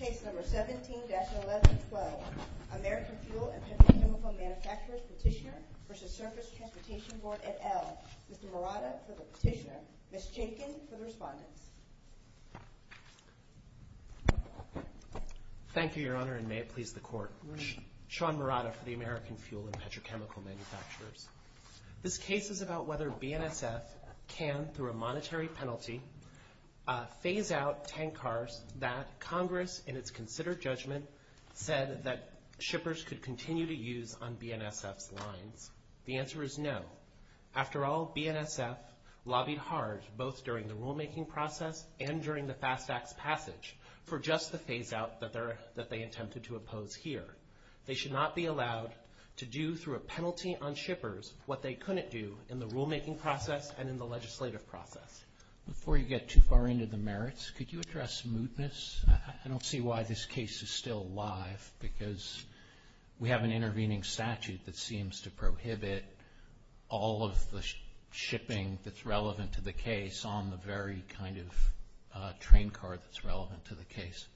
17-1112 American Fuel & Petrochemical Manufacturers Petitioner v. Surface Transportation Board et al., Mr. Morata for the petitioner, Ms. Jenkin for the respondents. Thank you Your Honor and may it please the Court. Sean Morata for the American Fuel & Petrochemical Manufacturers. This case is about whether BNSF can, through a monetary penalty, phase out tank cars that Congress, in its considered judgment, said that shippers could continue to use on BNSF's lines. The answer is no. After all, BNSF lobbied hard, both during the rulemaking process and during the fast tax passage, for just the phase out that they attempted to oppose here. They should not be allowed to do, through a penalty on shippers, what they couldn't do in the rulemaking process and in the legislative process. Before you get too far into the merits, could you address mootness? I don't see why this case is still alive because we have an intervening statute that seems to prohibit all of the shipping that's relevant to the case on the very kind of train car that's relevant to the case.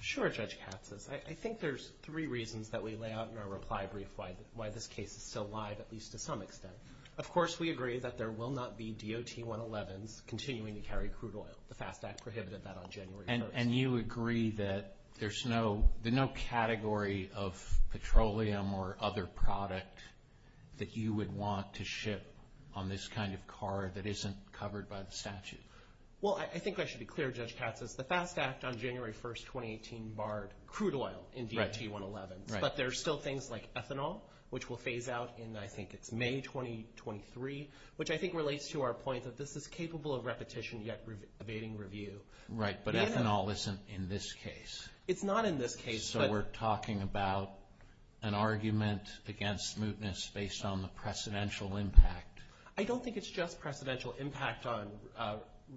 Sure, Judge Katsas. I think there's three reasons that we lay out in our reply brief why this case is still alive, at least to some extent. Of course, we agree that there will not be DOT-111s continuing to carry crude oil. The FAST Act prohibited that on January 1st. And you agree that there's no category of petroleum or other product that you would want to ship on this kind of car that isn't covered by the statute? Well, I think I should be clear, Judge Katsas. The FAST Act on January 1st, 2018, barred crude oil in DOT-111s. But there's still things like ethanol, which will phase out in, I think it's May 2023, which I think relates to our point that this is capable of repetition yet evading review. Right, but ethanol isn't in this case. It's not in this case. So we're talking about an argument against mootness based on the precedential impact? I don't think it's just precedential impact on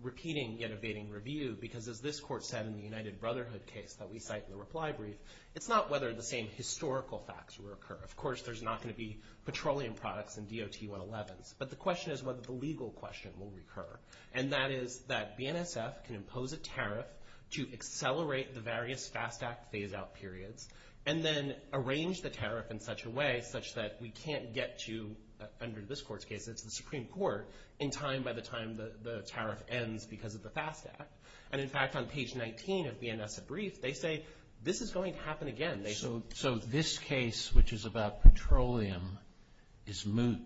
repeating yet evading review because as this court said in the United Brotherhood case that we cite in the reply brief, it's not whether the same historical facts will occur. Of course, there's not going to be petroleum products in DOT-111s. But the question is whether the legal question will recur. And that is that BNSF can impose a tariff to accelerate the various FAST Act phase-out periods and then arrange the tariff in such a way such that we can't get to, under this court's case, it's the Supreme Court, in time by the time the tariff ends because of the FAST Act. And in fact, on page 19 of BNSF's brief, they say this is going to happen again. So this case, which is about petroleum, is moot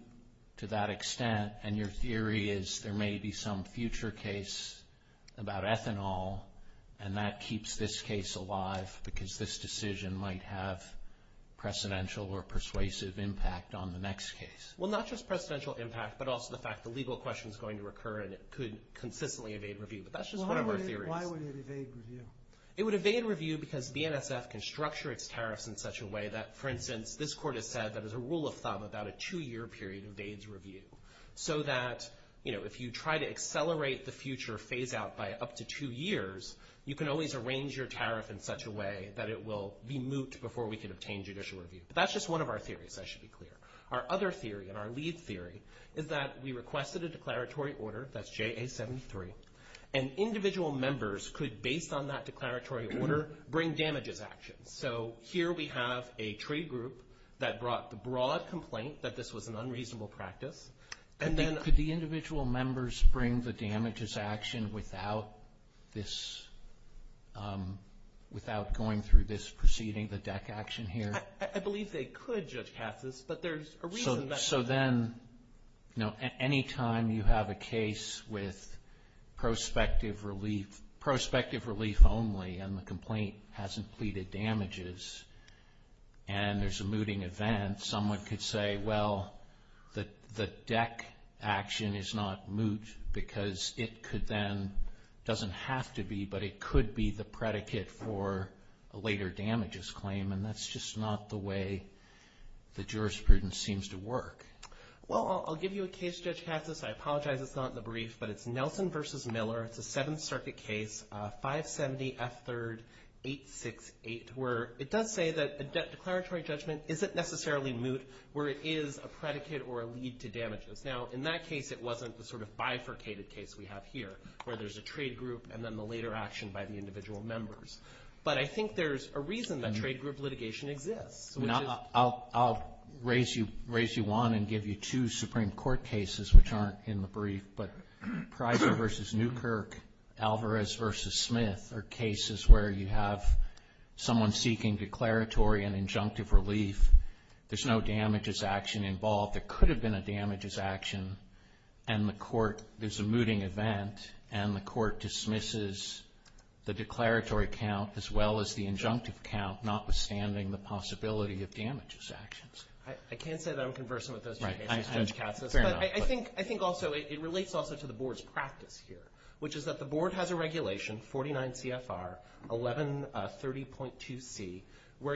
to that extent and your theory is there may be some future case about ethanol and that keeps this case alive because this decision might have precedential or persuasive impact on the next case. Well, not just precedential impact, but also the fact the legal question is going to recur and it could consistently evade review. But that's just one of our theories. Why would it evade review? It would evade review because BNSF can structure its tariffs in such a way that, for instance, this court has said that as a rule of thumb, about a two-year period evades review. So that, you know, if you try to accelerate the future phase-out by up to two years, you can always arrange your tariff in such a way that it will be moot before we can obtain judicial review. But that's just one of our theories, I should be clear. Our other theory and our lead theory is that we requested a declaratory order, that's JA-73, and individual members could, based on that declaratory order, bring damages action. So here we have a trade group that brought the broad complaint that this was an unreasonable practice. Could the individual members bring the damages action without this, without going through this proceeding, the deck action here? I believe they could, Judge Katsas, but there's a reason that... So then, you know, any time you have a case with prospective relief, prospective relief only and the complaint hasn't pleaded damages and there's a mooting event, someone could say, well, the deck action is not moot because it could then, doesn't have to be, but it could be the predicate for a later damages claim and that's just not the way the jurisprudence seems to work. Well, I'll give you a case, Judge Katsas. I apologize it's not in the brief, but it's Nelson v. Miller. It's a Seventh Circuit case, 570 F. 3rd 868, where it does say that a declaratory judgment isn't necessarily moot where it is a predicate or a lead to damages. Now, in that case, it wasn't the sort of bifurcated case we have here where there's a trade group and then the later action by the individual members. But I think there's a reason that trade group litigation exists. I'll raise you one and give you two Supreme Court cases which aren't in the brief, but Pryor v. Newkirk, Alvarez v. Smith are cases where you have someone seeking declaratory and injunctive relief. There's no damages action involved. There could have been a damages action and the court, there's a mooting event and the court dismisses the declaratory count as well as the injunctive count, notwithstanding the possibility of damages actions. I can't say that I'm conversant with those two cases, Judge Katsas. Fair enough. But I think also it relates also to the Board's practice here, which is that the Board has a regulation, 49 CFR 1130.2c, where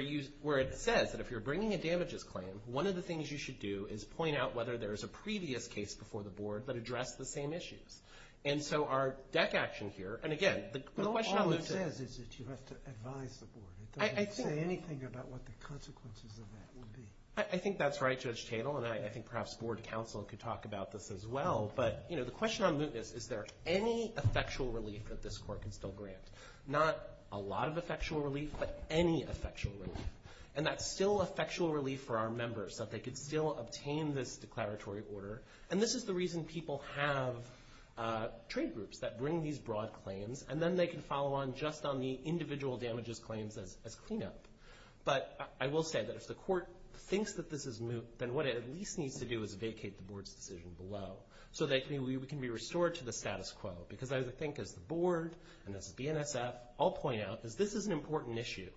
it says that if you're bringing a damages claim, one of the things you should do is point out whether there's a previous case before the Board that addressed the same issues. And so our deck action here, and again, the question on mootness... But all it says is that you have to advise the Board. It doesn't say anything about what the consequences of that would be. I think that's right, Judge Tatel, and I think perhaps Board counsel could talk about this as well. But the question on mootness, is there any effectual relief that this Court can still grant? Not a lot of effectual relief, but any effectual relief. And that's still effectual relief for our members, that they could still obtain this declaratory order. And this is the reason people have trade groups that bring these broad claims, and then they can follow on just on the individual damages claims as cleanup. But I will say that if the Court thinks that this is moot, then what it at least needs to do is vacate the Board's decision below, so that we can be restored to the status quo. Because I think as the Board, and as BNSF, all point out, is this is an important issue,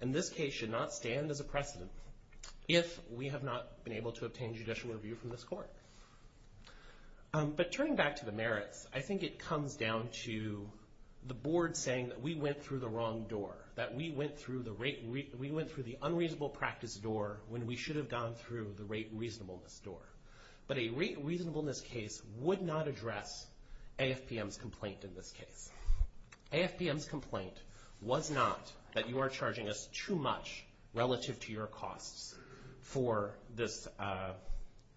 and this case should not stand as a precedent if we have not been able to obtain judicial review from this Court. But turning back to the merits, I think it comes down to the Board saying that we went through the wrong door, that we went through the unreasonable practice door when we should have gone through the rate reasonableness door. But a rate reasonableness case would not address AFPM's complaint in this case. AFPM's complaint was not that you are charging us too much relative to your costs for this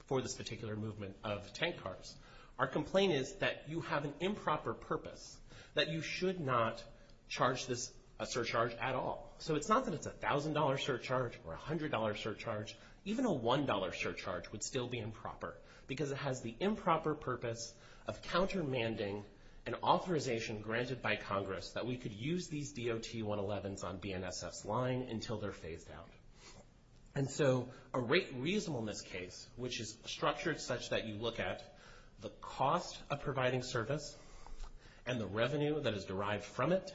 particular movement of tank cars. Our complaint is that you have an improper purpose, that you should not charge this a surcharge at all. So it's not that it's a $1,000 surcharge or a $100 surcharge, even a $1 surcharge would still be improper, because it has the improper purpose of countermanding an authorization granted by Congress that we could use these DOT-111s on BNSF's line until they're phased out. And so a rate reasonableness case, which is structured such that you look at the cost of providing service and the revenue that is derived from it,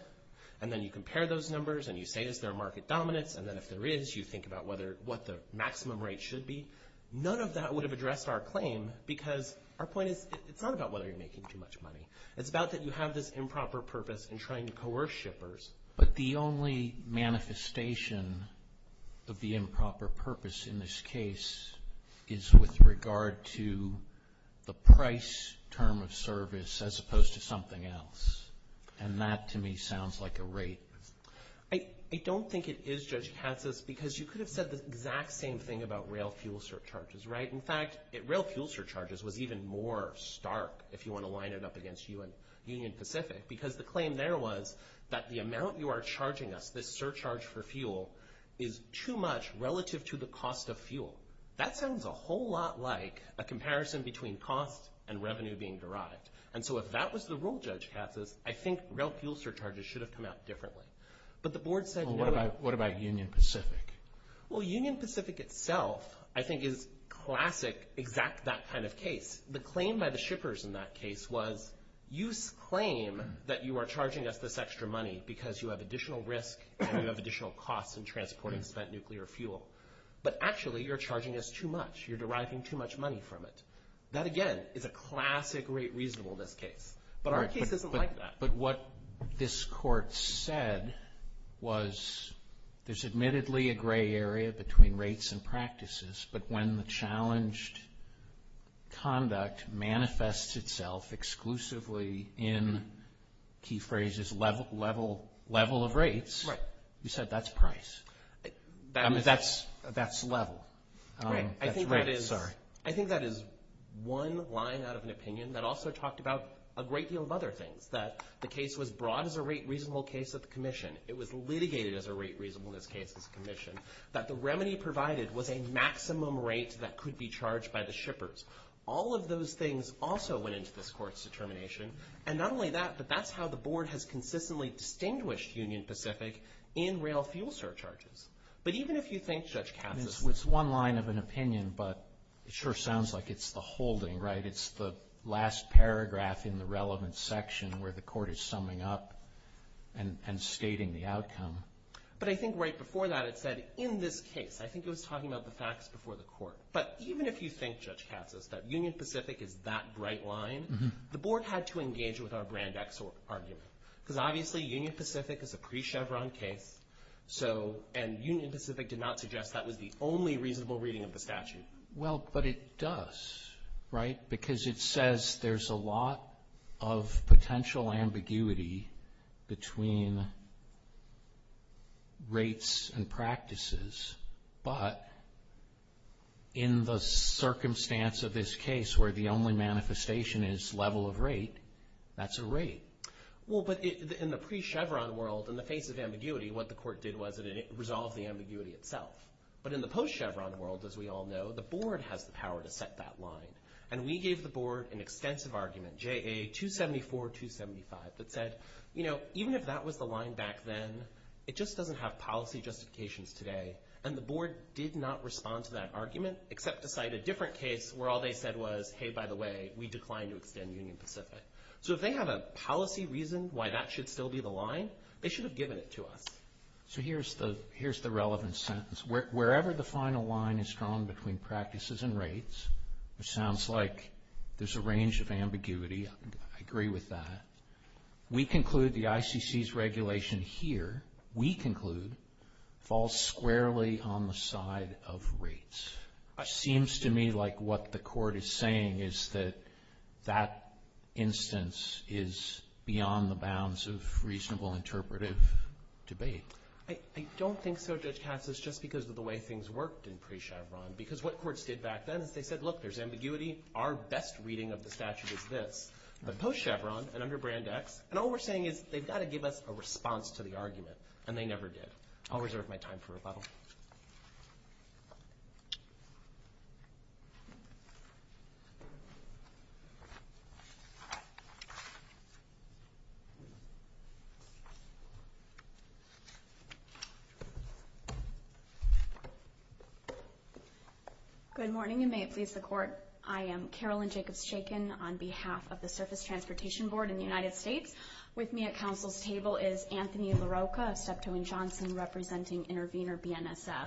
and then you compare those numbers, and you say, is there market dominance, and then if there is, you think about what the maximum rate should be. None of that would have addressed our claim, because our point is, it's not about whether you're making too much money. It's about that you have this improper purpose in trying to coerce shippers. But the only manifestation of the improper purpose in this case is with regard to the price term of service, as opposed to something else. And that, to me, sounds like a rate. I don't think it is, Judge Katsas, because you could have said the exact same thing about rail fuel surcharges, right? In fact, rail fuel surcharges was even more stark if you want to line it up against Union Pacific, because the claim there was that the amount you are charging us, this surcharge for fuel, is too much relative to the cost of fuel. That sounds a whole lot like a comparison between cost and revenue being derived. And so if that was the rule, Judge Katsas, I think rail fuel surcharges should have come out differently. But the board said... Well, Union Pacific itself, I think, is classic, exact that kind of case. The claim by the shippers in that case was, you claim that you are charging us this extra money because you have additional risk and you have additional costs in transporting spent nuclear fuel. But actually, you're charging us too much. You're deriving too much money from it. That, again, is a classic rate reasonableness case. But our case isn't like that. But what this court said was, there's admittedly a gray area between rates and practices, but when the challenged conduct manifests itself exclusively in, key phrase is, level of rates, you said that's price. I mean, that's level. I think that is one line out of an opinion that also talked about a great deal of other things. That the case was brought as a rate reasonableness case at the commission. It was litigated as a rate reasonableness case at the commission. That the remedy provided was a maximum rate that could be charged by the shippers. All of those things also went into this court's determination. And not only that, but that's how the board has consistently distinguished Union Pacific in rail fuel surcharges. But even if you think Judge Katsas... It's one line of an opinion, but it sure sounds like it's the holding, right? It's the last paragraph in the relevant section where the court is summing up and stating the outcome. But I think right before that it said, in this case, I think it was talking about the facts before the court. But even if you think, Judge Katsas, that Union Pacific is that bright line, the board had to engage with our brand X argument. Because obviously Union Pacific is a pre-Chevron case. And Union Pacific did not suggest that was the only reasonable reading of the statute. Well, but it does, right? Because it says there's a lot of potential ambiguity between rates and practices. But in the circumstance of this case where the only manifestation is level of rate, that's a rate. Well, but in the pre-Chevron world, in the face of ambiguity, what the court did was it resolved the ambiguity itself. But in the post-Chevron world, as we all know, the board has the power to set that line. And we gave the board an extensive argument, JA 274-275, that said, you know, even if that was the line back then, it just doesn't have policy justifications today. And the board did not respond to that argument, except to cite a different case where all they said was, hey, by the way, we declined to extend Union Pacific. So if they have a policy reason why that should still be the line, they should have given it to us. So here's the relevant sentence. Wherever the final line is drawn between practices and rates, which sounds like there's a range of ambiguity, I agree with that. We conclude the ICC's regulation here, we conclude, falls squarely on the side of rates. Seems to me like what the court is saying is that that instance is beyond the bounds of reasonable interpretive debate. I don't think so, Judge Katsas, just because of the way things worked in pre-Chevron. Because what courts did back then is they said, look, there's ambiguity. Our best reading of the statute is this. But post-Chevron and under Brand X, and all we're saying is they've got to give us a response to the argument, and they never did. I'll reserve my time for rebuttal. Thank you. Good morning, and may it please the Court, I am Carolyn Jacobs-Chaykin on behalf of the Surface Transportation Board in the United States. With me at Council's table is Anthony LaRocca of Steptoe & Johnson, representing Intervenor BNSF.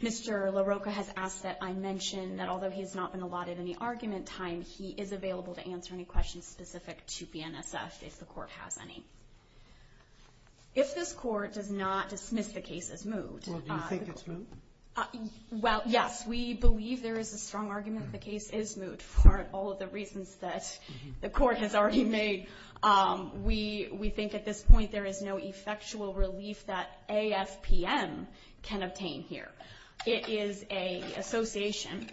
Mr. LaRocca has asked that I mention that although he has not been allotted any argument time, he is available to answer any questions specific to BNSF if the Court has any. If this Court does not dismiss the case as moot... Well, do you think it's moot? Well, yes, we believe there is a strong argument that the case is moot for all of the reasons that the Court has already made. We think at this point there is no effectual relief that AFPM can obtain here. It is an association.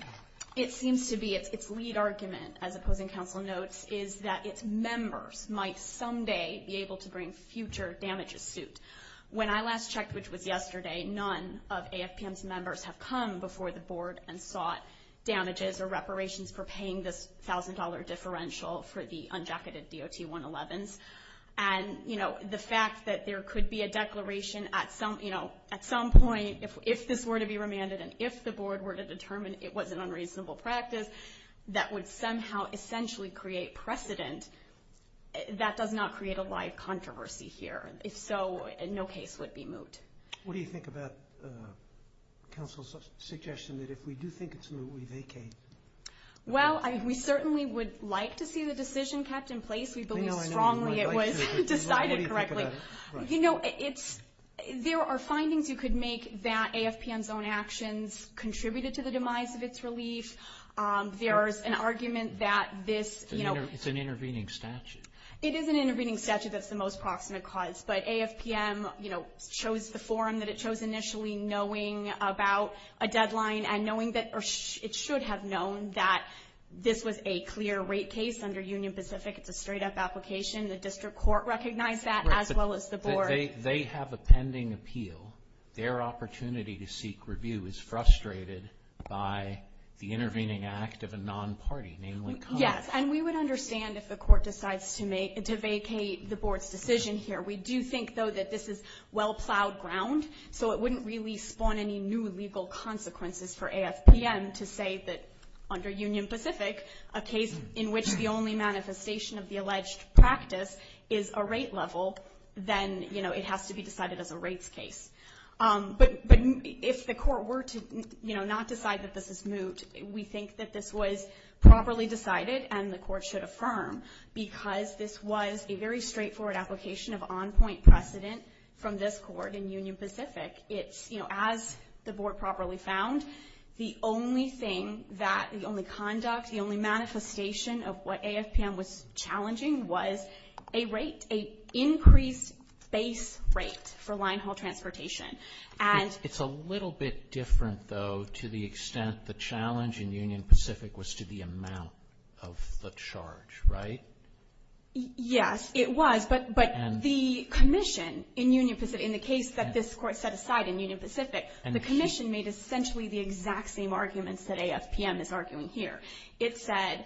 It seems to be its lead argument, as opposing counsel notes, is that its members might someday be able to bring future damages suit. When I last checked, which was yesterday, none of AFPM's members have come before the Board and sought damages or reparations for paying this $1,000 differential for the unjacketed DOT-111s. And the fact that there could be a declaration at some point, if this were to be remanded and if the Board were to determine it was an unreasonable practice that would somehow essentially create precedent, that does not create a live controversy here. If so, no case would be moot. What do you think about counsel's suggestion that if we do think it's moot, we vacate? Well, we certainly would like to see the decision kept in place. We believe strongly it was decided correctly. There are findings you could make that AFPM's own actions contributed to the demise of its relief. There's an argument that this... It's an intervening statute. It is an intervening statute that's the most proximate cause, but AFPM chose the forum that it chose initially knowing about a deadline and knowing that it should have known that this was a clear rate case under Union Pacific. It's a straight-up application. The District Court recognized that, as well as the Board. They have a pending appeal. Their opportunity to seek review is frustrated by the intervening act of a non-party, namely Congress. Yes, and we would understand if the Court decides to vacate the Board's decision here. We do think, though, that this is well-plowed ground, so it wouldn't really spawn any new legal consequences for AFPM to say that, under Union Pacific, a case in which the only manifestation of the alleged practice is a rate level, then it has to be decided as a rates case. But if the Court were to not decide that this is moot, we think that this was properly decided and the Court should affirm because this was a very straightforward application of on-point precedent from this Court in Union Pacific. As the Board properly found, the only thing, the only conduct, the only manifestation of what AFPM was challenging was a rate, an increased base rate for line haul transportation. It's a little bit different, though, to the extent the challenge in Union Pacific was to the amount of the charge, right? Yes, it was, but the Commission in Union Pacific, in the case that this Court set aside in Union Pacific, the Commission made essentially the exact same arguments that AFPM is arguing here. It said,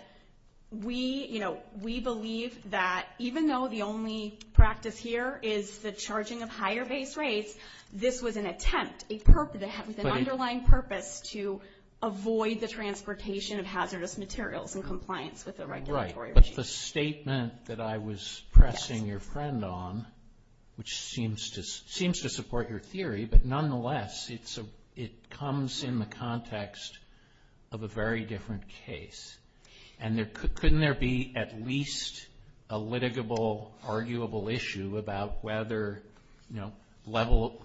we, you know, we believe that even though the only practice here is the charging of higher base rates, this was an attempt, with an underlying purpose to avoid the transportation of hazardous materials in compliance with the regulatory regime. Right, but the statement that I was pressing your friend on, but nonetheless, it comes in the context of a very different case. And couldn't there be at least a litigable, arguable issue about whether, you know, level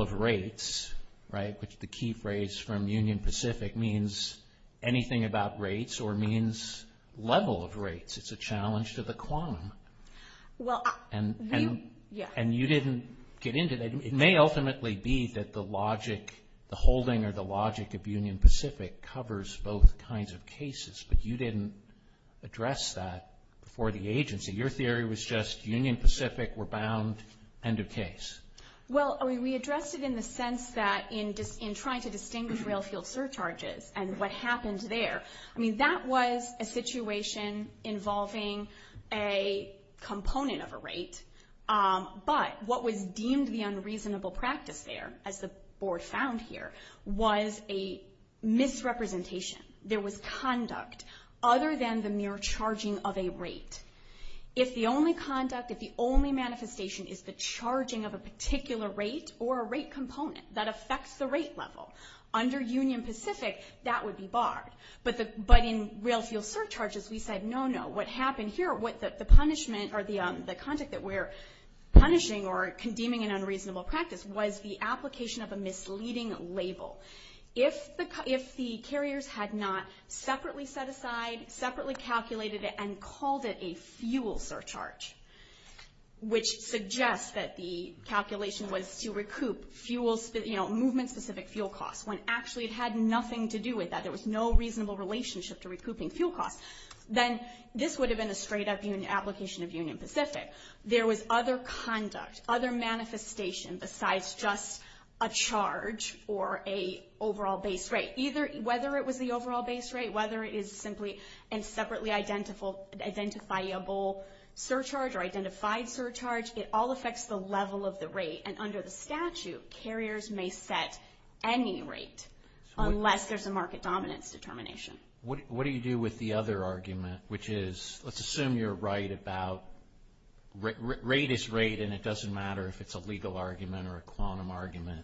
of rates, right, which the key phrase from Union Pacific means anything about rates or means level of rates, it's a challenge to the quantum. And you didn't get into that. It may ultimately be that the logic, the holding or the logic of Union Pacific covers both kinds of cases, but you didn't address that before the agency. Your theory was just Union Pacific, we're bound, end of case. Well, we addressed it in the sense that in trying to distinguish rail field surcharges and what happened there, I mean, that was a situation involving a component of a rate, but what was deemed the unreasonable practice there, as the board found here, was a misrepresentation. There was conduct other than the mere charging of a rate. If the only conduct, if the only manifestation is the charging of a particular rate or a rate component that affects the rate level under Union Pacific, that would be barred. But in rail field surcharges, we said, no, no, what happened here, the punishment or the conduct that we're punishing or condemning an unreasonable practice was the application of a misleading label. If the carriers had not separately set aside, separately calculated it and called it a fuel surcharge, which suggests that the calculation was to recoup movement specific fuel costs, when actually it had nothing to do with that. There was no reasonable relationship to recouping fuel costs. Then this would have been a straight up application of Union Pacific. There was other conduct, other manifestation besides just a charge or a overall base rate. Whether it was the overall base rate, whether it is simply a separately identifiable surcharge or identified surcharge, it all affects the level of the rate. And under the statute, carriers may set any rate, unless there's a further argument, which is, let's assume you're right about rate is rate and it doesn't matter if it's a legal argument or a quantum argument.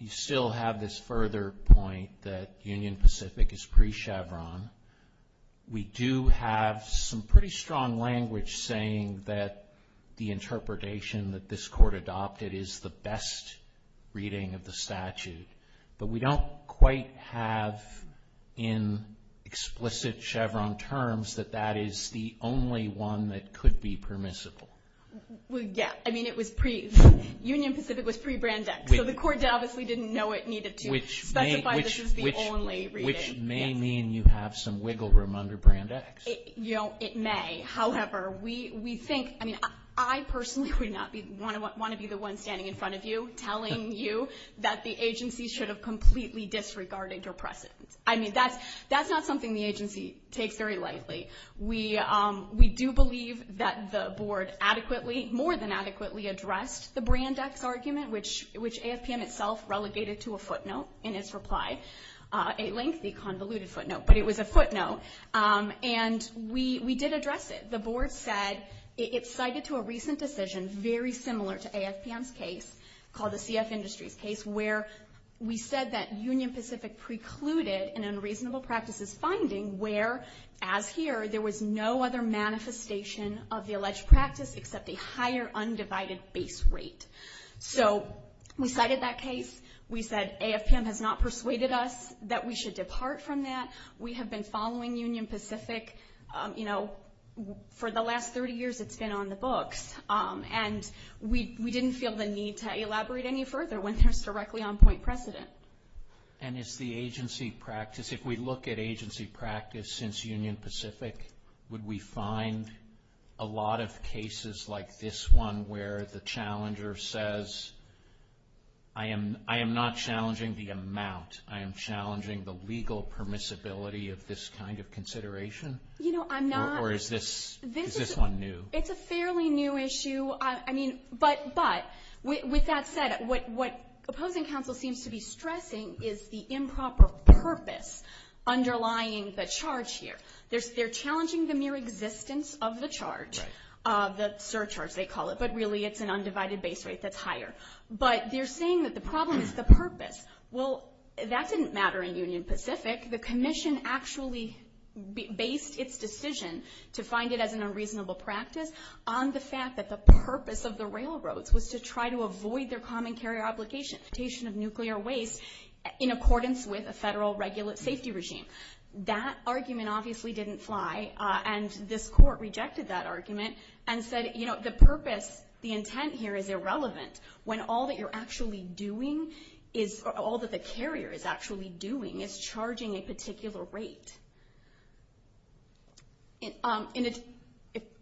You still have this further point that Union Pacific is pre-Chevron. We do have some pretty strong language saying that the interpretation that this court adopted is the best reading of the statute. But we don't quite have in explicit Chevron terms that that is the only one that could be permissible. Union Pacific was pre-Brandex, so the court obviously didn't know it needed to specify this is the only reading. Which may mean you have some wiggle room under Brandex. It may. However, I personally would not want to be the one standing in front of you telling you that the I mean, that's not something the agency takes very lightly. We do believe that the board adequately, more than adequately addressed the Brandex argument, which AFPM itself relegated to a footnote in its reply. A lengthy convoluted footnote, but it was a footnote. And we did address it. The board said it cited to a recent decision very similar to AFPM's case, called the CF Industries case, where we said that Union Pacific precluded an unreasonable practices finding where, as here, there was no other manifestation of the alleged practice except a higher undivided base rate. So, we cited that case. We said AFPM has not persuaded us that we should depart from that. We have been following Union Pacific you know, for the last 30 years it's been on the books. And we And it's the agency practice if we look at agency practice since Union Pacific would we find a lot of cases like this one where the challenger says, I am not challenging the amount. I am challenging the legal permissibility of this kind of consideration? You know, I'm not. Or is this one new? It's a fairly new issue. I mean, but with that said, what opposing counsel seems to be stressing is the improper purpose underlying the charge here. They're challenging the mere existence of the charge the surcharge they call it, but really it's an undivided base rate that's higher. But they're saying that the problem is the purpose. Well, that didn't matter in Union Pacific. The commission actually based its decision to find it as an unreasonable practice on the fact that the purpose of the railroads was to try to avoid their common carrier obligation of nuclear waste in accordance with a federal safety regime. That argument obviously didn't fly and this court rejected that argument and said, you know, the purpose, the intent here is irrelevant when all that you're actually doing all that the carrier is actually doing is charging a particular rate.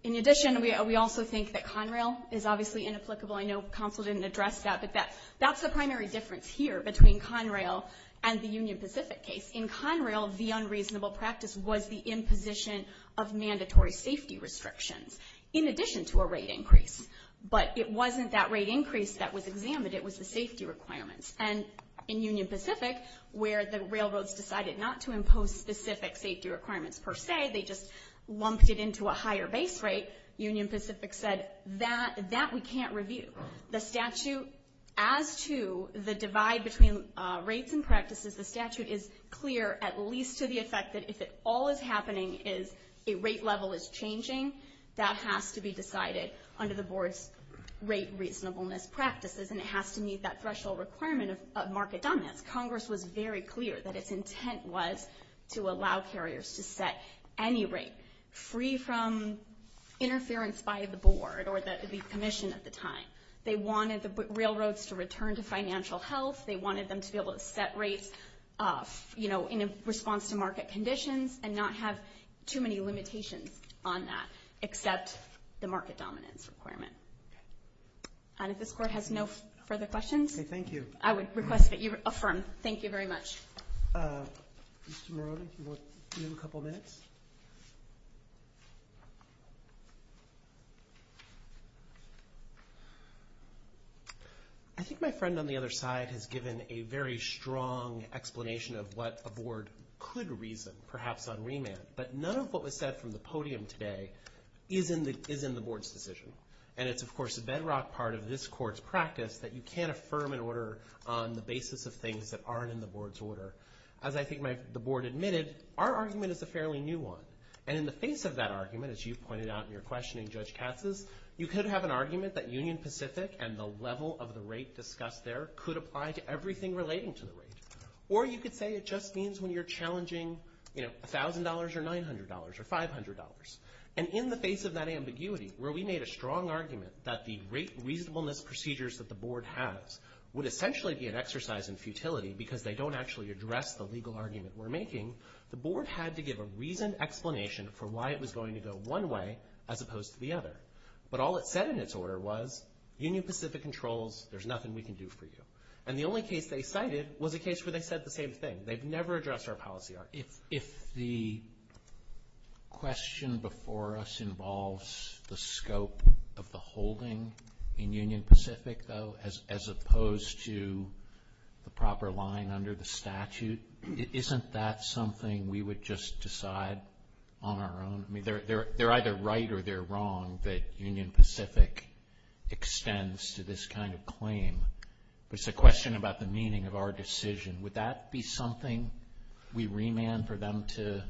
In addition, we also think that Conrail is obviously inapplicable. I know counsel didn't address that, but that's the primary difference here between Conrail and the Union Pacific case. In Conrail, the unreasonable practice was the imposition of mandatory safety restrictions in addition to a rate increase. But it wasn't that rate increase that was examined, it was the safety requirements. And in Union Pacific where the railroads decided not to impose specific safety requirements per se, they just lumped it into a higher base rate, Union Pacific said that we can't review. The statute as to the divide between rates and practices, the statute is clear at least to the effect that if it all is happening is a rate level is changing, that has to be decided under the board's rate reasonableness practices and it has to meet that threshold requirement of market dominance. Congress was very clear that its intent was to allow carriers to set any rate free from interference by the board or the commission at the time. They wanted the railroads to return to financial health, they wanted them to be able to set rates in response to market conditions and not have too many limitations on that except the market dominance requirement. And if this court has no further questions, I would request that you affirm. Thank you very much. I think my friend on the other side has given a very strong explanation of what a board could reason, perhaps on remand, but none of what was said from the podium today is in the board's decision. And it's of course a bedrock part of this court's practice that you can't affirm an order on the basis of things that aren't in the board's order. As I think the board admitted, our argument is a fairly new one. And in the face of that argument, as you pointed out in your questioning Judge Katz's, you could have an argument that Union Pacific and the level of the rate discussed there could apply to everything relating to the rate. Or you could say it just means when you're challenging $1,000 or $900 or $500. And in the face of that ambiguity, where we made a strong argument that the rate reasonableness procedures that the board has would essentially be an exercise in futility because they don't actually address the legal argument we're making, the board had to give a reasoned explanation for why it was going to go one way as opposed to the other. But all it said in its order was, Union Pacific controls, there's nothing we can do for you. And the only case they cited was a case where they said the same thing. They've never addressed our policy. If the question before us involves the scope of the holding in Union Pacific though as opposed to the proper line under the statute, isn't that something we would just decide on our own? They're either right or they're wrong that Union Pacific extends to this kind of claim. But it's a question about the meaning of our decision. Would that be something we remand for them to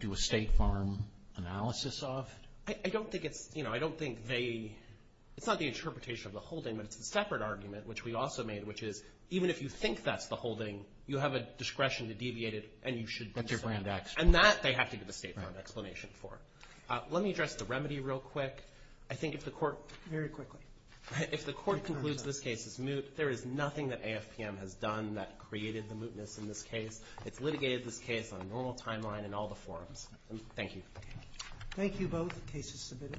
do a State Farm analysis of? I don't think it's it's not the interpretation of the holding but it's a separate argument which we also made which is even if you think that's the holding, you have a discretion to deviate it and that they have to give a State Farm explanation for. Let me address the remedy real quick. I think if the court concludes this case is moot, there is nothing that AFPM has done that created the mootness in this case. It's litigated this case on a normal timeline in all the forums. Thank you. Thank you both. Case is submitted.